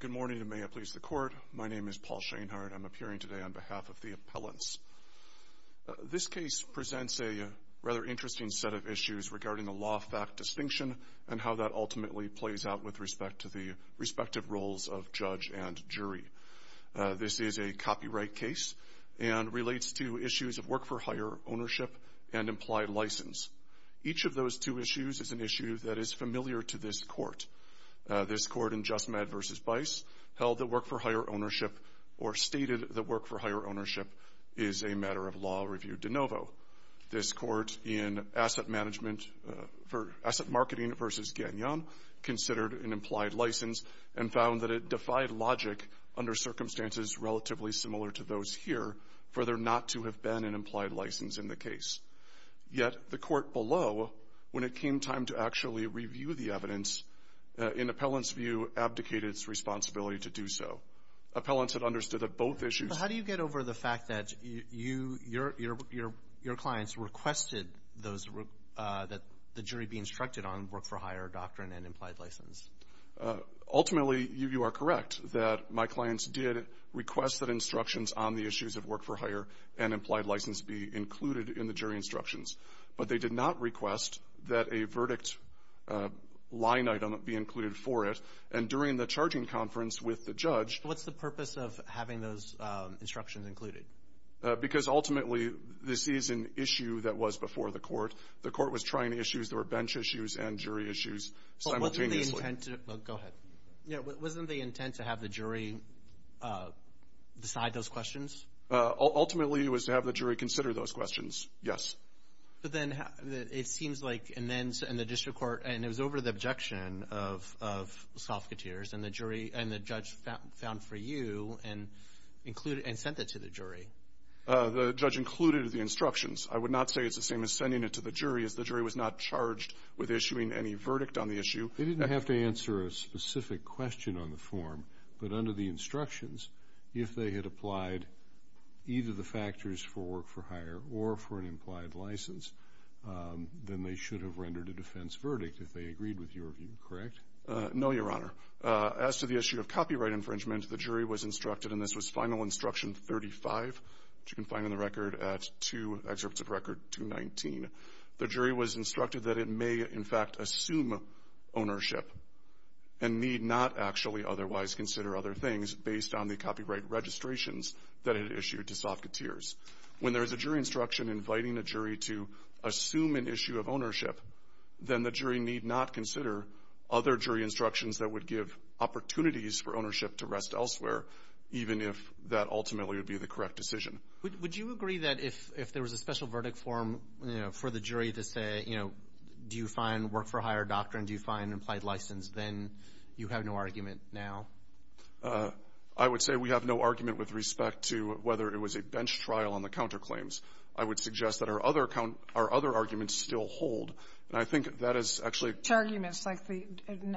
Good morning, and may it please the Court. My name is Paul Sheinhardt. I'm appearing today on behalf of the appellants. This case presents a rather interesting set of issues regarding the law-fact distinction and how that ultimately plays out with respect to the respective roles of judge and jury. This is a copyright case and relates to issues of work-for-hire ownership and implied license. Each of those two issues is an issue that is familiar to this Court. This Court in JustMed v. Bice held that work-for-hire ownership or stated that work-for-hire ownership is a matter of law review de novo. This Court in Asset Marketing v. Gagnon considered an implied license and found that it defied logic under circumstances relatively similar to those here for there not to have been an implied license in the case. Yet the Court below, when it came time to actually review the evidence, in appellants' view, abdicated its responsibility to do so. Appellants had understood that both issues So how do you get over the fact that your clients requested that the jury be instructed on work-for-hire doctrine and implied license? Ultimately, you are correct that my clients did request that instructions on the issues of work-for-hire and implied license be included in the jury instructions. But they did not request that a verdict line item be included for it. And during the charging conference with the judge What's the purpose of having those instructions included? Because ultimately, this is an issue that was before the Court. The Court was trying the issues. There were bench issues and jury issues simultaneously. Wasn't the intent to have the jury decide those questions? Ultimately it was to have the jury consider those questions, yes. It seems like in the district court, and it was over the objection of Sofketeers and the judge found for you and included and sent it to the jury. The judge included the instructions. I would not say it's the same as sending it to the jury as the jury was not charged with issuing any verdict on the issue. They didn't have to answer a specific question on the form, but under the instructions, if they had applied either the factors for work-for-hire or for an implied license, then they should have rendered a defense verdict if they agreed with your view, correct? No, Your Honor. As to the issue of copyright infringement, the jury was instructed, and this was final instruction 35, which you can find in the record at two excerpts of record 219. The jury was instructed that it may in fact assume ownership and need not actually otherwise consider other things based on the copyright registrations that it issued to Sofketeers. When there is a jury instruction inviting a jury to assume an issue of ownership, then the jury need not consider other jury instructions that would give opportunities for ownership to rest elsewhere, even if that ultimately would be the correct decision. Would you agree that if there was a special verdict form for the jury to say, you know, do you find work-for-hire doctrine, do you find implied license, then you have no argument now? I would say we have no argument with respect to whether it was a bench trial on the counter And I think that is actually a Such arguments like the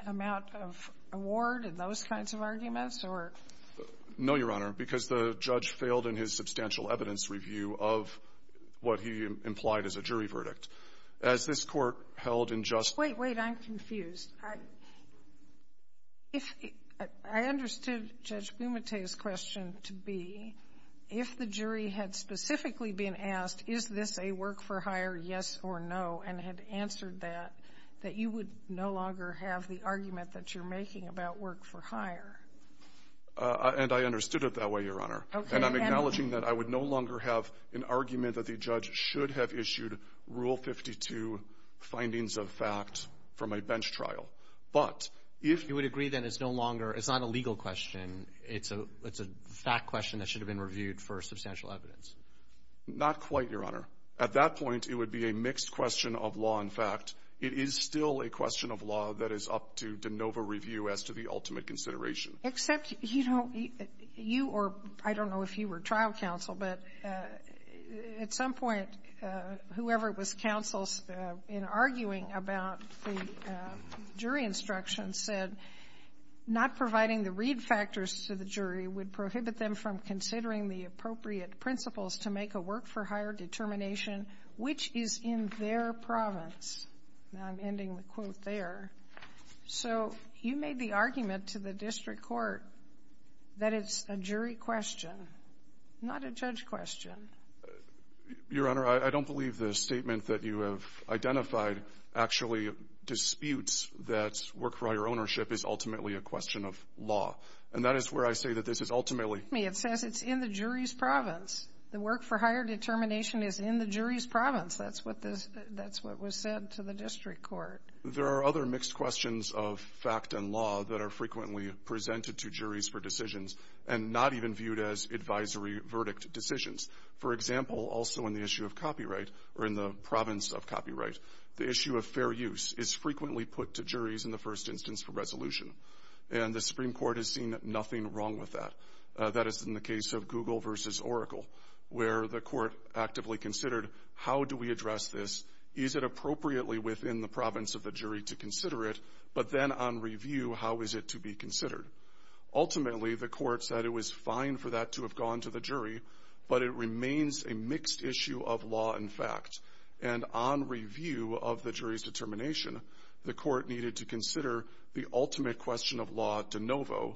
amount of award and those kinds of arguments or No, Your Honor, because the judge failed in his substantial evidence review of what he implied as a jury verdict. As this Court held in just Wait, wait. I'm confused. If I understood Judge Bumate's question to be, if the jury had specifically been asked, is this a work-for-hire, yes or no, and had answered that, that you would no longer have the argument that you're making about work-for-hire. And I understood it that way, Your Honor. Okay. And I'm acknowledging that I would no longer have an argument that the judge should have issued Rule 52 findings of fact from a bench trial. But if You would agree then it's no longer, it's not a legal question. It's a fact question that should have been reviewed for substantial evidence. Not quite, Your Honor. At that point, it would be a mixed question of law and fact. It is still a question of law that is up to de novo review as to the ultimate consideration. Except, you know, you or I don't know if you were trial counsel, but at some point, whoever it was counsels in arguing about the jury instruction said not providing the read factors to the jury would prohibit them from considering the appropriate principles to make a work-for-hire determination which is in their province. Now, I'm ending the quote there. So you made the argument to the district court that it's a jury question, not a judge question. Your Honor, I don't believe the statement that you have identified actually disputes that work-for-hire ownership is ultimately a question of law. And that is where I say that this is ultimately It says it's in the jury's province. The work-for-hire determination is in the jury's province. That's what this, that's what was said to the district court. There are other mixed questions of fact and law that are frequently presented to juries for decisions and not even viewed as advisory verdict decisions. For example, also in the issue of copyright or in the province of copyright, the issue of fair use is frequently put to juries in the first instance for resolution. And the Supreme Court has seen nothing wrong with that. That is in the case of Google versus Oracle, where the court actively considered how do we address this? Is it appropriately within the province of the jury to consider it? But then on review, how is it to be considered? Ultimately, the court said it was fine for that to have gone to the jury, but it remains a mixed issue of law and fact. And on review of the jury's determination, the court needed to consider the ultimate question of law de novo,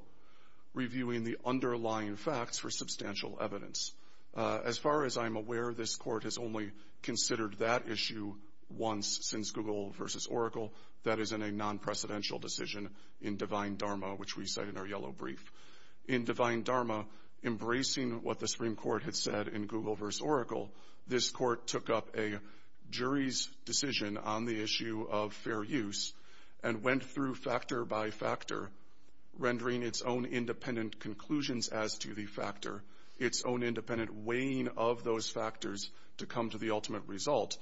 reviewing the underlying facts for substantial evidence. As far as I'm aware, this court has only considered that issue once since Google versus Oracle. That is in a non-precedential decision in divine dharma, which we say in our yellow brief. In divine dharma, embracing what the Supreme Court had said in Google versus Oracle, this court took up a jury's decision on the issue of fair use and went through factor by factor, rendering its own independent conclusions as to the factor, its own independent weighing of those factors to come to the ultimate result,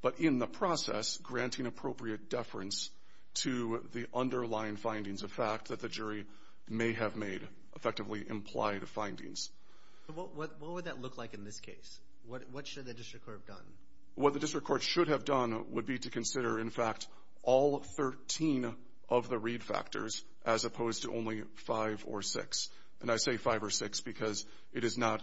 but in the process, granting appropriate deference to the underlying findings of fact that the jury may have made effectively implied findings. What would that look like in this case? What should the district court have done? What the district court should have done would be to consider, in fact, all 13 of the read factors as opposed to only 5 or 6. And I say 5 or 6 because it is not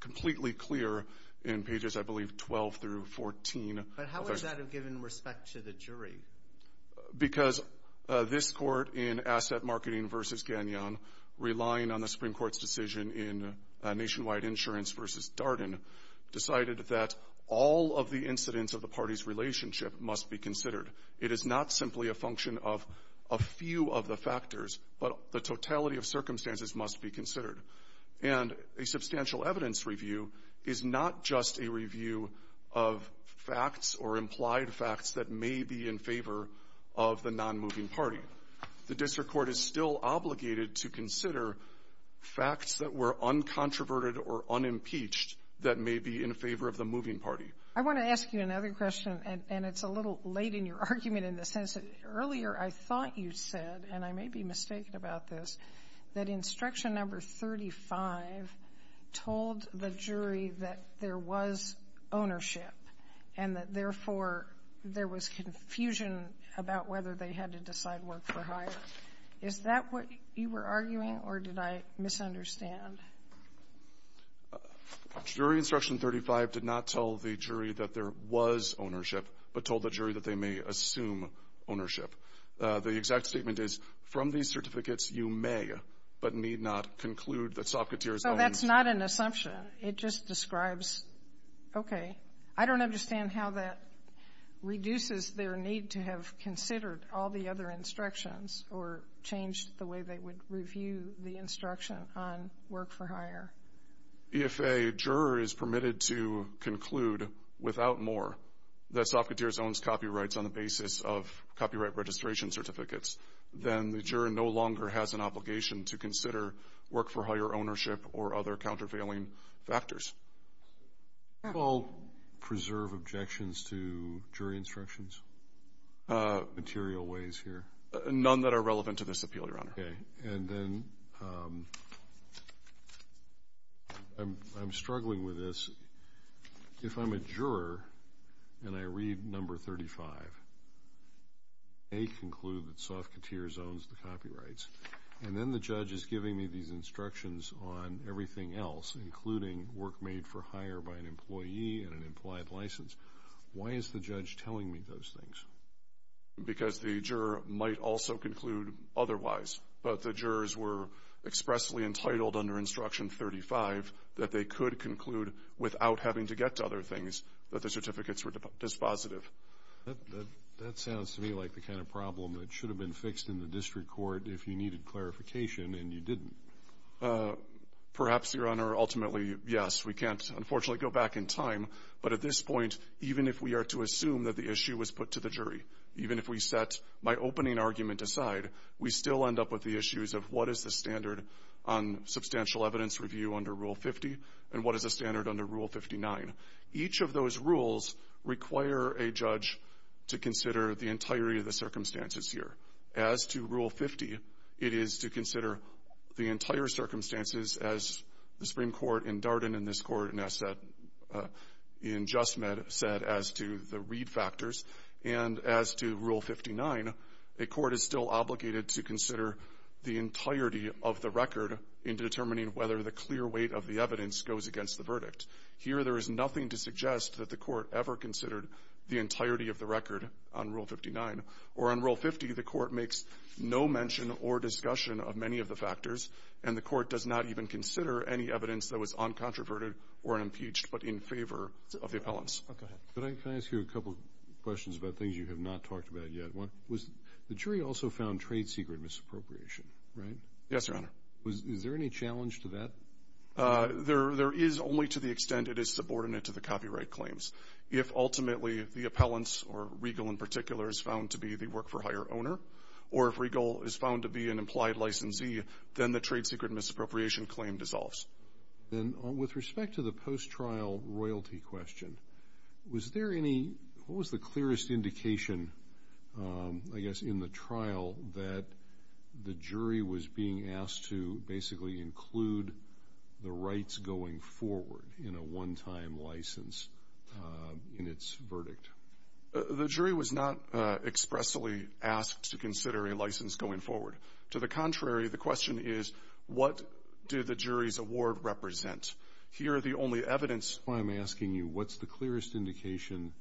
completely clear in pages, I believe, 12 through 14. But how would that have given respect to the jury? Because this court in Asset Marketing versus Gagnon, relying on the Supreme Court's decision in Nationwide Insurance versus Darden, decided that all of the incidents of the party's relationship must be considered. It is not simply a function of a few of the factors, but the totality of circumstances must be considered. And a substantial evidence review is not just a review of facts or implied facts that may be in favor of the non-moving party. The district court is still obligated to consider facts that were uncontroverted or unimpeached that may be in favor of the moving party. I want to ask you another question, and it's a little late in your argument in the sense that earlier I thought you said, and I may be mistaken about this, that instruction number 35 told the jury that there was ownership and that, therefore, there was confusion about whether they had to decide work for hire. Is that what you were arguing, or did I misunderstand? Jury instruction 35 did not tell the jury that there was ownership, but told the jury that they may assume ownership. The exact statement is, from these certificates you may, but need not, conclude that Sofketeer's owns. So that's not an assumption. It just describes, okay, I don't understand how that reduces their need to have considered all the other instructions or changed the way they would review the instruction on work for hire. If a juror is permitted to conclude without more that Sofketeer's owns copyrights on the basis of copyright registration certificates, then the juror no longer has an obligation to consider work for hire ownership or other countervailing factors. Do you all preserve objections to jury instructions? Material ways here? None that are relevant to this appeal, Your Honor. Okay. And then I'm struggling with this. If I'm a juror, and I read number 35, I'm not going to say, I may conclude that Sofketeer's owns the copyrights. And then the judge is giving me these instructions on everything else, including work made for hire by an employee and an implied license. Why is the judge telling me those things? Because the juror might also conclude otherwise. But the jurors were expressly entitled under instruction 35 that they could conclude without having to get to other things that the certificates were dispositive. That sounds to me like the kind of problem that should have been fixed in the district court if you needed clarification, and you didn't. Perhaps, Your Honor, ultimately, yes. We can't, unfortunately, go back in time. But at this point, even if we are to assume that the issue was put to the jury, even if we set my opening argument aside, we still end up with the issues of what is the standard on substantial evidence review under Rule 50 and what is the standard under Rule 59. Each of those rules require a judge to consider the entirety of the circumstances here. As to Rule 50, it is to consider the entire circumstances, as the Supreme Court in Darden and this Court in Justmed said, as to the read factors. And as to Rule 59, a court is still obligated to consider the entirety of the record in determining whether the clear weight of the evidence goes against the verdict. Here, there is nothing to suggest that the Court ever considered the entirety of the record on Rule 59. Or on Rule 50, the Court makes no mention or discussion of many of the factors, and the Court does not even consider any evidence that was uncontroverted or impeached but in favor of the appellants. Go ahead. Can I ask you a couple of questions about things you have not talked about yet? One, the jury also found trade secret misappropriation, right? Yes, Your Honor. Is there any challenge to that? There is, only to the extent it is subordinate to the copyright claims. If, ultimately, the appellants, or Regal in particular, is found to be the work-for-hire owner, or if Regal is found to be an implied licensee, then the trade secret misappropriation claim dissolves. With respect to the post-trial royalty question, was there any, what was the clearest indication I guess in the trial that the jury was being asked to basically include the rights going forward in a one-time license in its verdict? The jury was not expressly asked to consider a license going forward. To the contrary, the question is, what did the jury's award represent? Here, the only evidence That's why I'm asking you, what's the clearest indication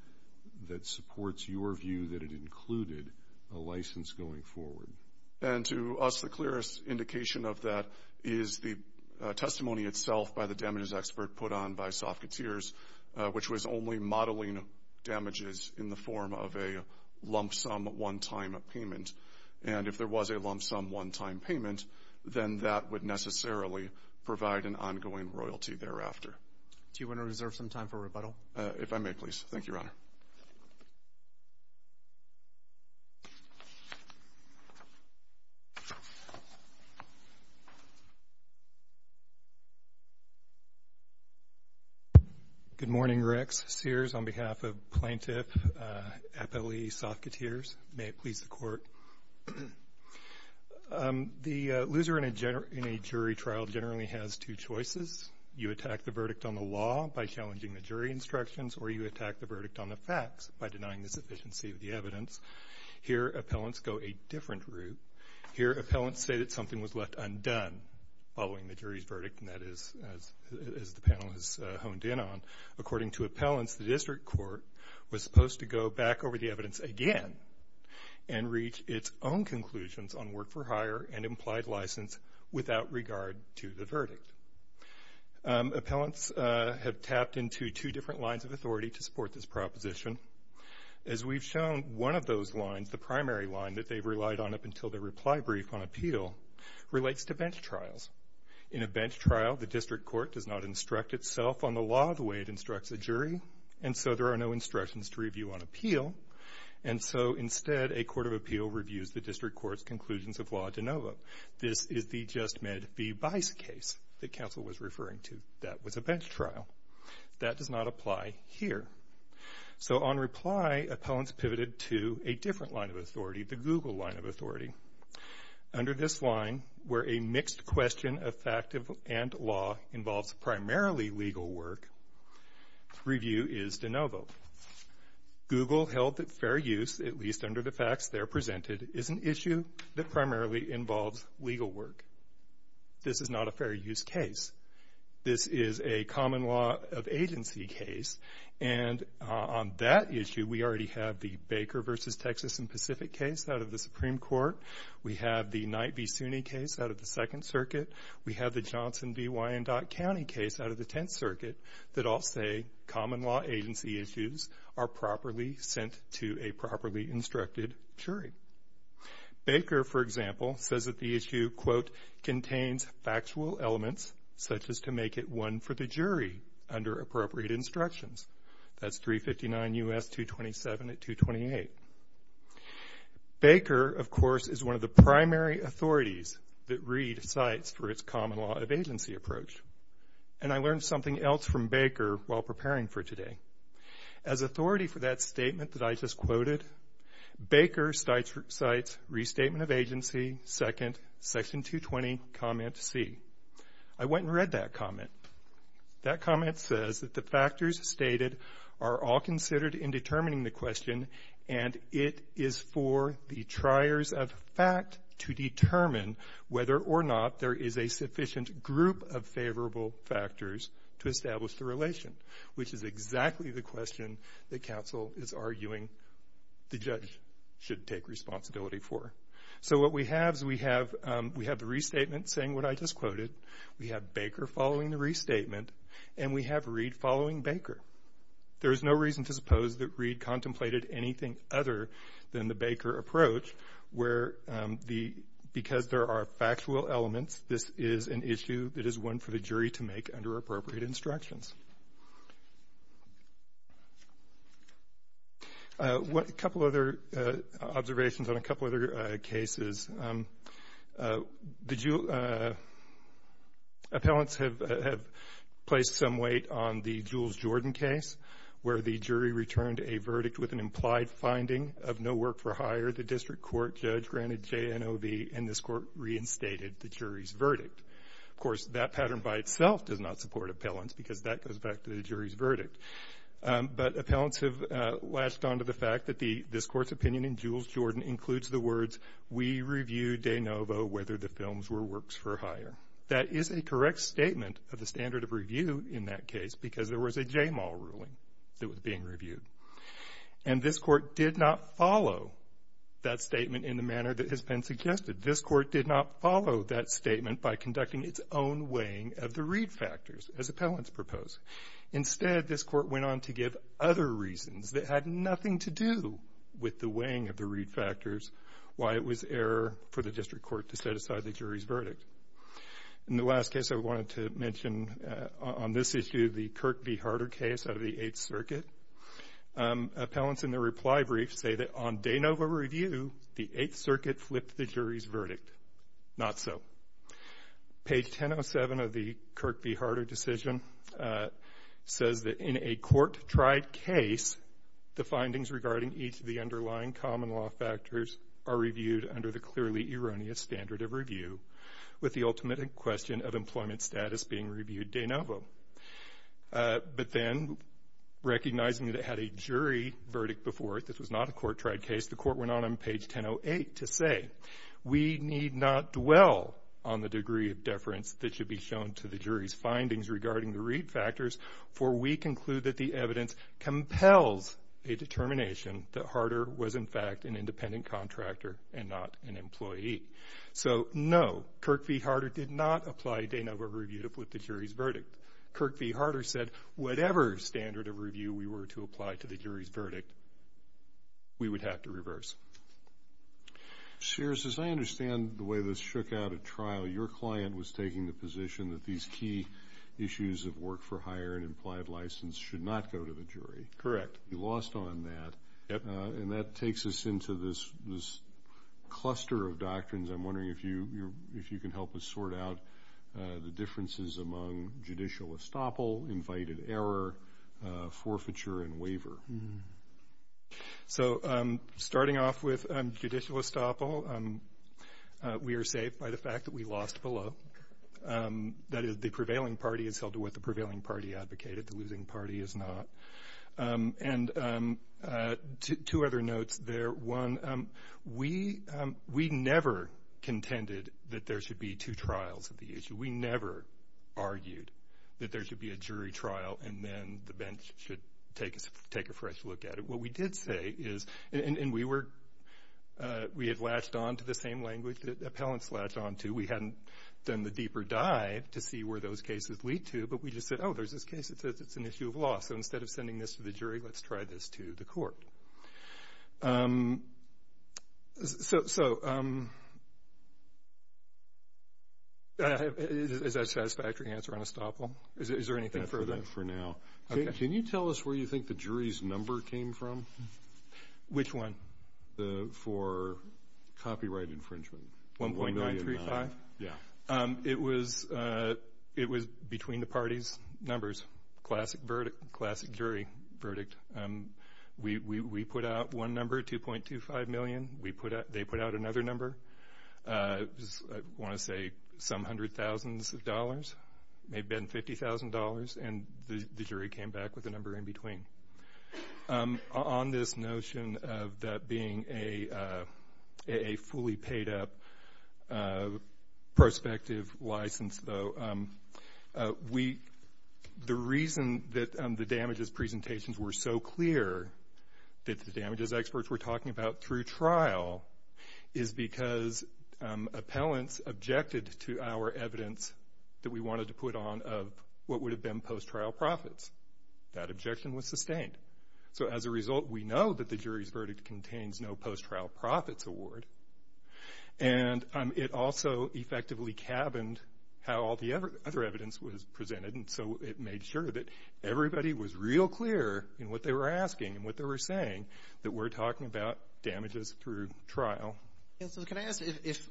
that supports your view that it included a license going forward? And to us, the clearest indication of that is the testimony itself by the damages expert put on by Sofketeers, which was only modeling damages in the form of a lump sum one-time payment. And if there was a lump sum one-time payment, then that would necessarily provide an ongoing royalty thereafter. Do you want to reserve some time for rebuttal? If I may, please. Thank you, Your Honor. Good morning, Rex. Sears on behalf of Plaintiff Appellee Sofketeers. May it please the Court. The loser in a jury trial generally has two choices. You attack the verdict on the law by challenging the jury instructions, or you attack the verdict on the facts by denying the sufficiency of the evidence. Here, appellants go a different route. Here, appellants say that something was left undone following the jury's verdict, and that is, as the panel has honed in on, according to appellants, the district court was supposed to go back over the evidence again and reach its own conclusions on work-for-hire and implied license without regard to the verdict. Appellants have tapped into two different lines of authority to support this proposition. As we've shown, one of those lines, the primary line that they've relied on up until their reply brief on appeal, relates to bench trials. In a bench trial, the district court does not instruct itself on the law the way it instructs a jury, and so there are no instructions to review on appeal, and so instead, a court of appeal reviews the district court's conclusions of law de novo. This is the Just Med v. Bice case that counsel was referring to. That was a bench trial. That does not apply here. So on reply, appellants pivoted to a different line of authority, the Google line of authority. Under this line, where a mixed question of fact and law involves primarily legal work, appeal review is de novo. Google held that fair use, at least under the facts there presented, is an issue that primarily involves legal work. This is not a fair use case. This is a common law of agency case, and on that issue, we already have the Baker v. Texas and Pacific case out of the Supreme Court. We have the Knight v. Suny case out of the Second Circuit. We have the Johnson v. Wyandotte County case out of the Tenth Circuit that all say common law agency issues are properly sent to a properly instructed jury. Baker, for example, says that the issue, quote, contains factual elements such as to make it one for the jury under appropriate instructions. That's 359 U.S. 227 at 228. Baker, of course, is one of the jurors for its common law of agency approach, and I learned something else from Baker while preparing for today. As authority for that statement that I just quoted, Baker cites restatement of agency, second, section 220, comment C. I went and read that comment. That comment says that the factors stated are all considered in determining the question, and it is for the triers of fact to determine whether or not there is a sufficient group of favorable factors to establish the relation, which is exactly the question that counsel is arguing the judge should take responsibility for. So what we have is we have the restatement saying what I just quoted. We have Baker following the restatement, and we have Reed following Baker. There is no reason to suppose that Reed contemplated anything other than the Baker approach, where because there are factual elements, this is an issue that is one for the jury to make under appropriate instructions. A couple other observations on a couple other cases. Appellants have placed some weight on the Jules Jordan case, where the jury returned a verdict with an implied finding of no work for hire. The district court judge granted JNOB, and this court reinstated the jury's verdict. Of course, that pattern by itself does not support appellants because that goes back to the jury's verdict. But appellants have latched on to the fact that this court's opinion in Jules Jordan includes the words, we review de novo whether the films were works for hire. That is a correct statement of the standard of review in that case because there was a JMAL ruling that was being reviewed. And this court did not follow that statement in the manner that has been suggested. This court did not follow that statement by conducting its own weighing of the Reed factors, as appellants propose. Instead, this court went on to give other reasons that had nothing to do with the weighing of the Reed factors, why it was fair for the district court to set aside the jury's verdict. In the last case I wanted to mention on this issue, the Kirk v. Harder case out of the Eighth Circuit, appellants in the reply brief say that on de novo review, the Eighth Circuit flipped the jury's verdict. Not so. Page 1007 of the Kirk v. Harder decision says that in a court-tried case, the findings regarding each of the underlying common law factors are reviewed under the clearly erroneous standard of review, with the ultimate question of employment status being reviewed de novo. But then, recognizing that it had a jury verdict before it, this was not a court-tried case, the court went on on page 1008 to say, we need not dwell on the degree of deference that should be shown to the jury's findings regarding the Reed factors, for we conclude that the evidence compels a determination that Harder was in fact an independent contractor and not an employee. So, no, Kirk v. Harder did not apply de novo review to flip the jury's verdict. Kirk v. Harder said, whatever standard of review we were to apply to the jury's verdict, we would have to reverse. Sears, as I understand the way this shook out at trial, your client was taking the position that these key issues of work for hire and implied license should not go to the jury. Correct. You lost on that, and that takes us into this cluster of doctrines. I'm wondering if you can help us sort out the differences among judicial estoppel, invited error, forfeiture, and waiver. So starting off with judicial estoppel, we are saved by the fact that we lost below. That is, the prevailing party is held to what the prevailing party advocated, the losing party is not. And two other notes there. One, we never contended that there should be two trials of the issue. We never argued that there should be a jury trial and then the bench should take a fresh look at it. What we did say is, and we were, we had latched on to the same language that appellants latched on to. We hadn't done the deeper dive to see where those cases lead to, but we just said, oh, there's this case that says it's an issue of law. So instead of sending this to the jury, let's try this to the court. Is that a satisfactory answer on estoppel? Is there anything further? That's enough for now. Can you tell us where you think the jury's number came from? Which one? For copyright infringement, 1.935? Yeah. It was between the parties' numbers. Classic verdict, classic jury verdict. We put out one number, 2.25 million. They put out another number. I want to say some hundred thousands of dollars. It may have been $50,000 and the jury came back with a number in between. On this notion of that being a fully paid up prospective license, though, the reason that the damages presentations were so clear that the damages experts were talking about through trial is because appellants objected to our evidence that we wanted to put on of what would have been post-trial profits. That objection was sustained. So as a result, we know that the jury's verdict contains no post-trial profits award. And it also effectively cabined how all the other evidence was presented. And so it made sure that everybody was real clear in what they were asking and what they were saying that we're talking about damages through trial. Yeah. So can I ask, if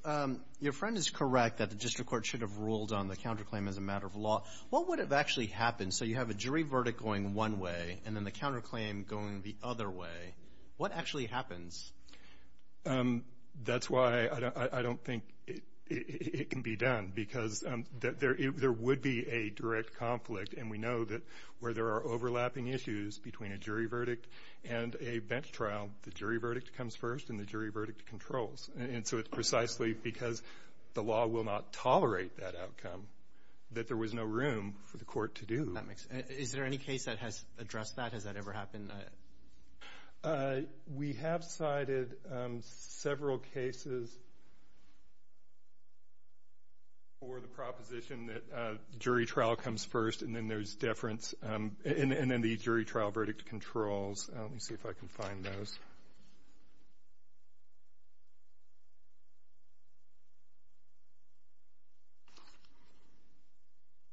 your friend is correct that the district court should have ruled on the counterclaim as a matter of law, what would have actually happened? So you have a jury verdict going one way and then the counterclaim going the other way. What actually happens? That's why I don't think it can be done because there would be a direct conflict. And we know that where there are overlapping issues between a jury verdict and a bench trial, the jury verdict comes first and the jury verdict controls. And so it's precisely because the law will not tolerate that outcome that there was no room for the court to do that. Is there any case that has addressed that? Has that ever happened? We have cited several cases for the proposition that jury trial comes first and then there's deference and then the jury trial verdict controls. Let me see if I can find those.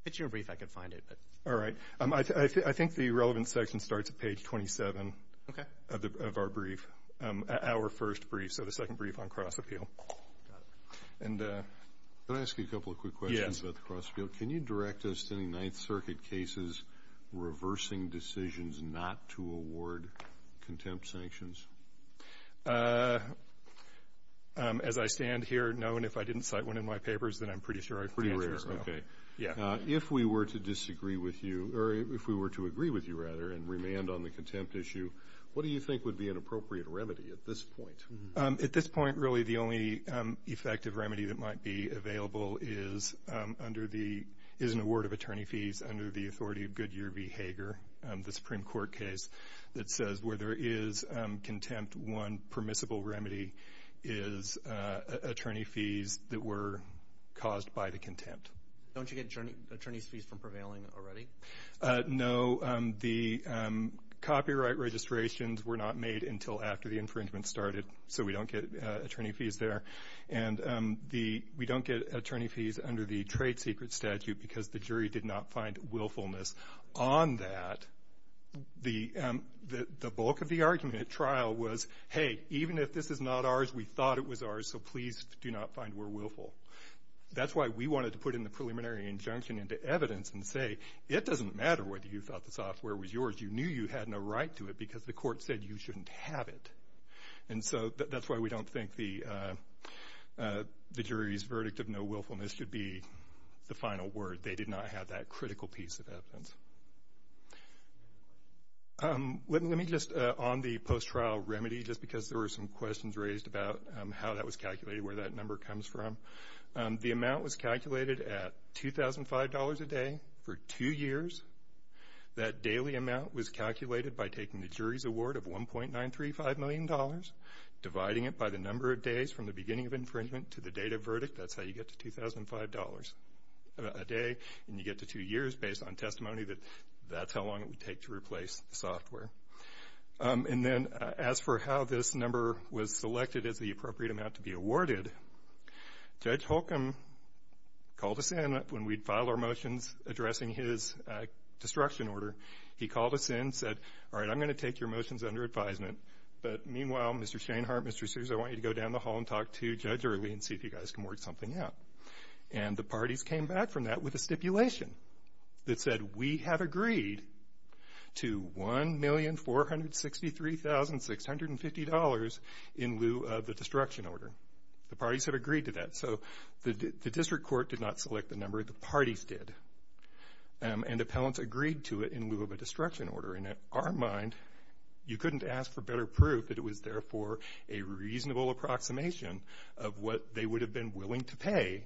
It's your brief. I can find it. All right. I think the relevant section starts at page 27 of our brief, our first brief, so the second brief on cross-appeal. Can I ask you a couple of quick questions about the cross-appeal? Can you direct us to any Ninth Circuit cases reversing decisions not to award contempt sanctions? As I stand here, no. And if I didn't cite one in my papers, then I'm pretty sure I'd have to answer as well. If we were to disagree with you, or if we were to agree with you, rather, and remand on the contempt issue, what do you think would be an appropriate remedy at this point? At this point, really, the only effective remedy that might be available is an award of attorney fees under the authority of Goodyear v. Hager, the Supreme Court case that says where there is contempt, one permissible remedy is attorney fees that were caused by the contempt. Don't you get attorney fees from prevailing already? No. The copyright registrations were not made until after the infringement started, so we don't get attorney fees there. And we don't get attorney fees under the trade secret statute because the jury did not find willfulness on that. The bulk of the argument at trial was, hey, even if this is not ours, we thought it was ours, so please do not find we're willful. That's why we wanted to put in the preliminary injunction into evidence and say, it doesn't matter whether you thought the software was yours. You knew you had no right to it because the court said you shouldn't have it. And so that's why we don't think the jury's verdict of no willfulness should be the final word. They did not have that critical piece of evidence. Let me just, on the post-trial remedy, just because there were some questions raised about how that was calculated, where that number comes from. The amount was calculated at $2,005 a day for two years. That daily amount was calculated by taking the jury's award of $1.935 million, dividing it by the number of days from the beginning of infringement to the definitive verdict. That's how you get to $2,005 a day, and you get to two years based on testimony that that's how long it would take to replace the software. And then as for how this number was selected as the appropriate amount to be awarded, Judge Holcomb called us in when we'd filed our motions addressing his destruction order. He called us in and said, all right, I'm going to take your motions under advisement, but meanwhile, Mr. Shainhart, Mr. Sears, I want you to go down the hall and talk to Judge Early and see if you guys can work something out. And the parties came back from that with a stipulation that said we have agreed to $1,463,650 in lieu of the destruction order. The parties had agreed to that. So the district court did not select the number, the parties did. And the appellants agreed to it in lieu of a destruction order. In our mind, you couldn't ask for better proof that it was therefore a reasonable approximation of what they would have been willing to pay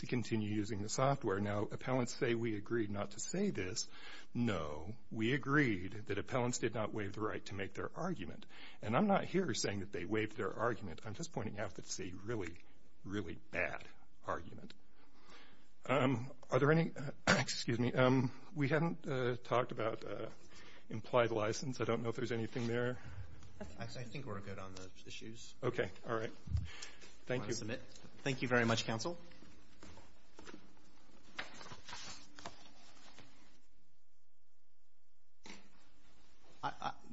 to continue using the software. Now, appellants say we agreed not to say this. No, we agreed that appellants did not waive the right to make their argument. And I'm not here saying that they waived their argument. I'm just pointing out that it's a really, really bad argument. Are there any, excuse me, we haven't talked about implied license. I don't know if there's anything there. I think we're good on the issues. Okay. All right. Thank you. Thank you very much, counsel.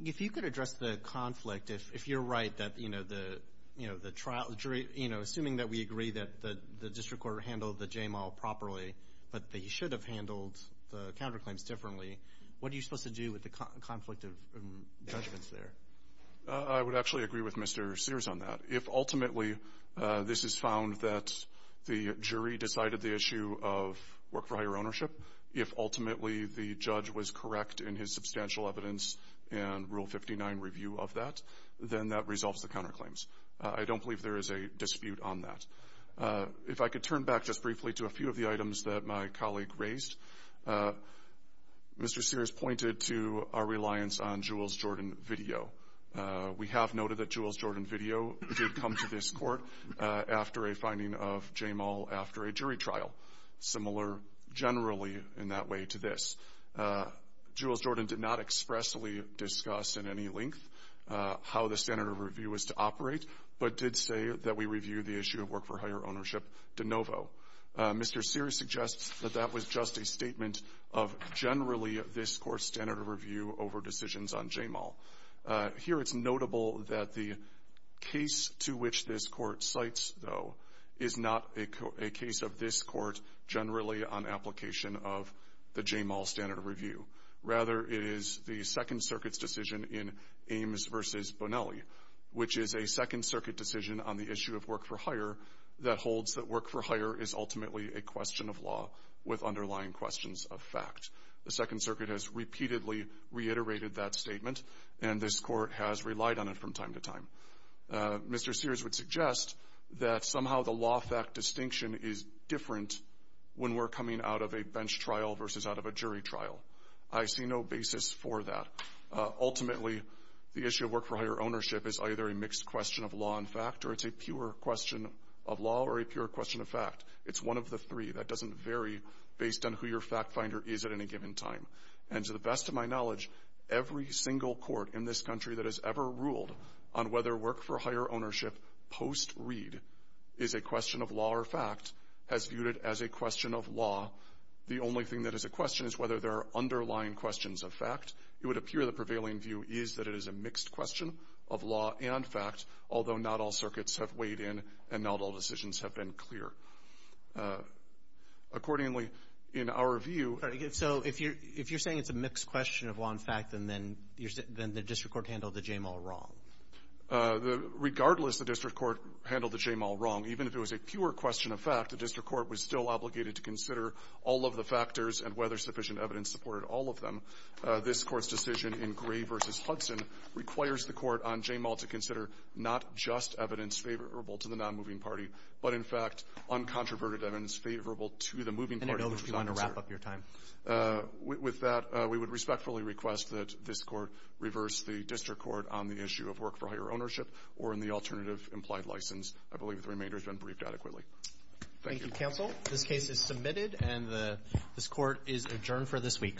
If you could address the conflict, if you're right that, you know, the trial jury, you know, assuming that we agree that the district court handled the JMAL properly, but they should have handled the counterclaims differently, what are you to do with the conflict of judgments there? I would actually agree with Mr. Sears on that. If ultimately this is found that the jury decided the issue of work for higher ownership, if ultimately the judge was correct in his substantial evidence and Rule 59 review of that, then that resolves the counterclaims. I don't believe there is a dispute on that. If I could turn back just briefly to a few of the items that my colleague raised. Mr. Sears pointed to our reliance on Jules Jordan video. We have noted that Jules Jordan video did come to this court after a finding of JMAL after a jury trial, similar generally in that way to this. Jules Jordan did not expressly discuss in any length how the standard of review is to operate, but did say that we review the issue of work for higher ownership de novo. Mr. Sears suggests that that was just a statement of generally this Court's standard of review over decisions on JMAL. Here it's notable that the case to which this Court cites, though, is not a case of this Court generally on application of the JMAL standard of review. Rather, it is the Second Circuit's decision in Ames v. Bonelli, which is a Second Circuit's decision in Ames v. Bonelli, which is ultimately a question of law with underlying questions of fact. The Second Circuit has repeatedly reiterated that statement, and this Court has relied on it from time to time. Mr. Sears would suggest that somehow the law-fact distinction is different when we're coming out of a bench trial versus out of a jury trial. I see no basis for that. Ultimately, the issue of work for higher ownership is either a mixed question of law and fact or it's a pure question of law or a pure question of fact. It's one of the three. That doesn't vary based on who your fact-finder is at any given time. And to the best of my knowledge, every single Court in this country that has ever ruled on whether work for higher ownership post-reed is a question of law or fact has viewed it as a question of law. The only thing that is a question is whether there are underlying questions of fact. It would appear the prevailing view is that it is a mixed question of law and fact, although not all circuits have weighed in and not all of the Court's decisions have been clear. Accordingly, in our view… Roberts. So if you're saying it's a mixed question of law and fact, then the district court handled the JMAL wrong. Sears. Regardless, the district court handled the JMAL wrong. Even if it was a pure question of fact, the district court was still obligated to consider all of the factors and whether sufficient evidence supported all of them. This Court's decision in Gray v. Hudson requires the court on JMAL to consider not just evidence favorable to the non-moving party, but in fact, uncontroverted evidence favorable to the moving party. Roberts. And I know that you want to wrap up your time. Sears. With that, we would respectfully request that this Court reverse the district court on the issue of work for higher ownership or in the alternative implied license. I believe the remainder has been briefed adequately. Thank you. Roberts. Thank you, counsel. This case is submitted and this Court is adjourned for this week. This case is submitted and this Court is adjourned for this week.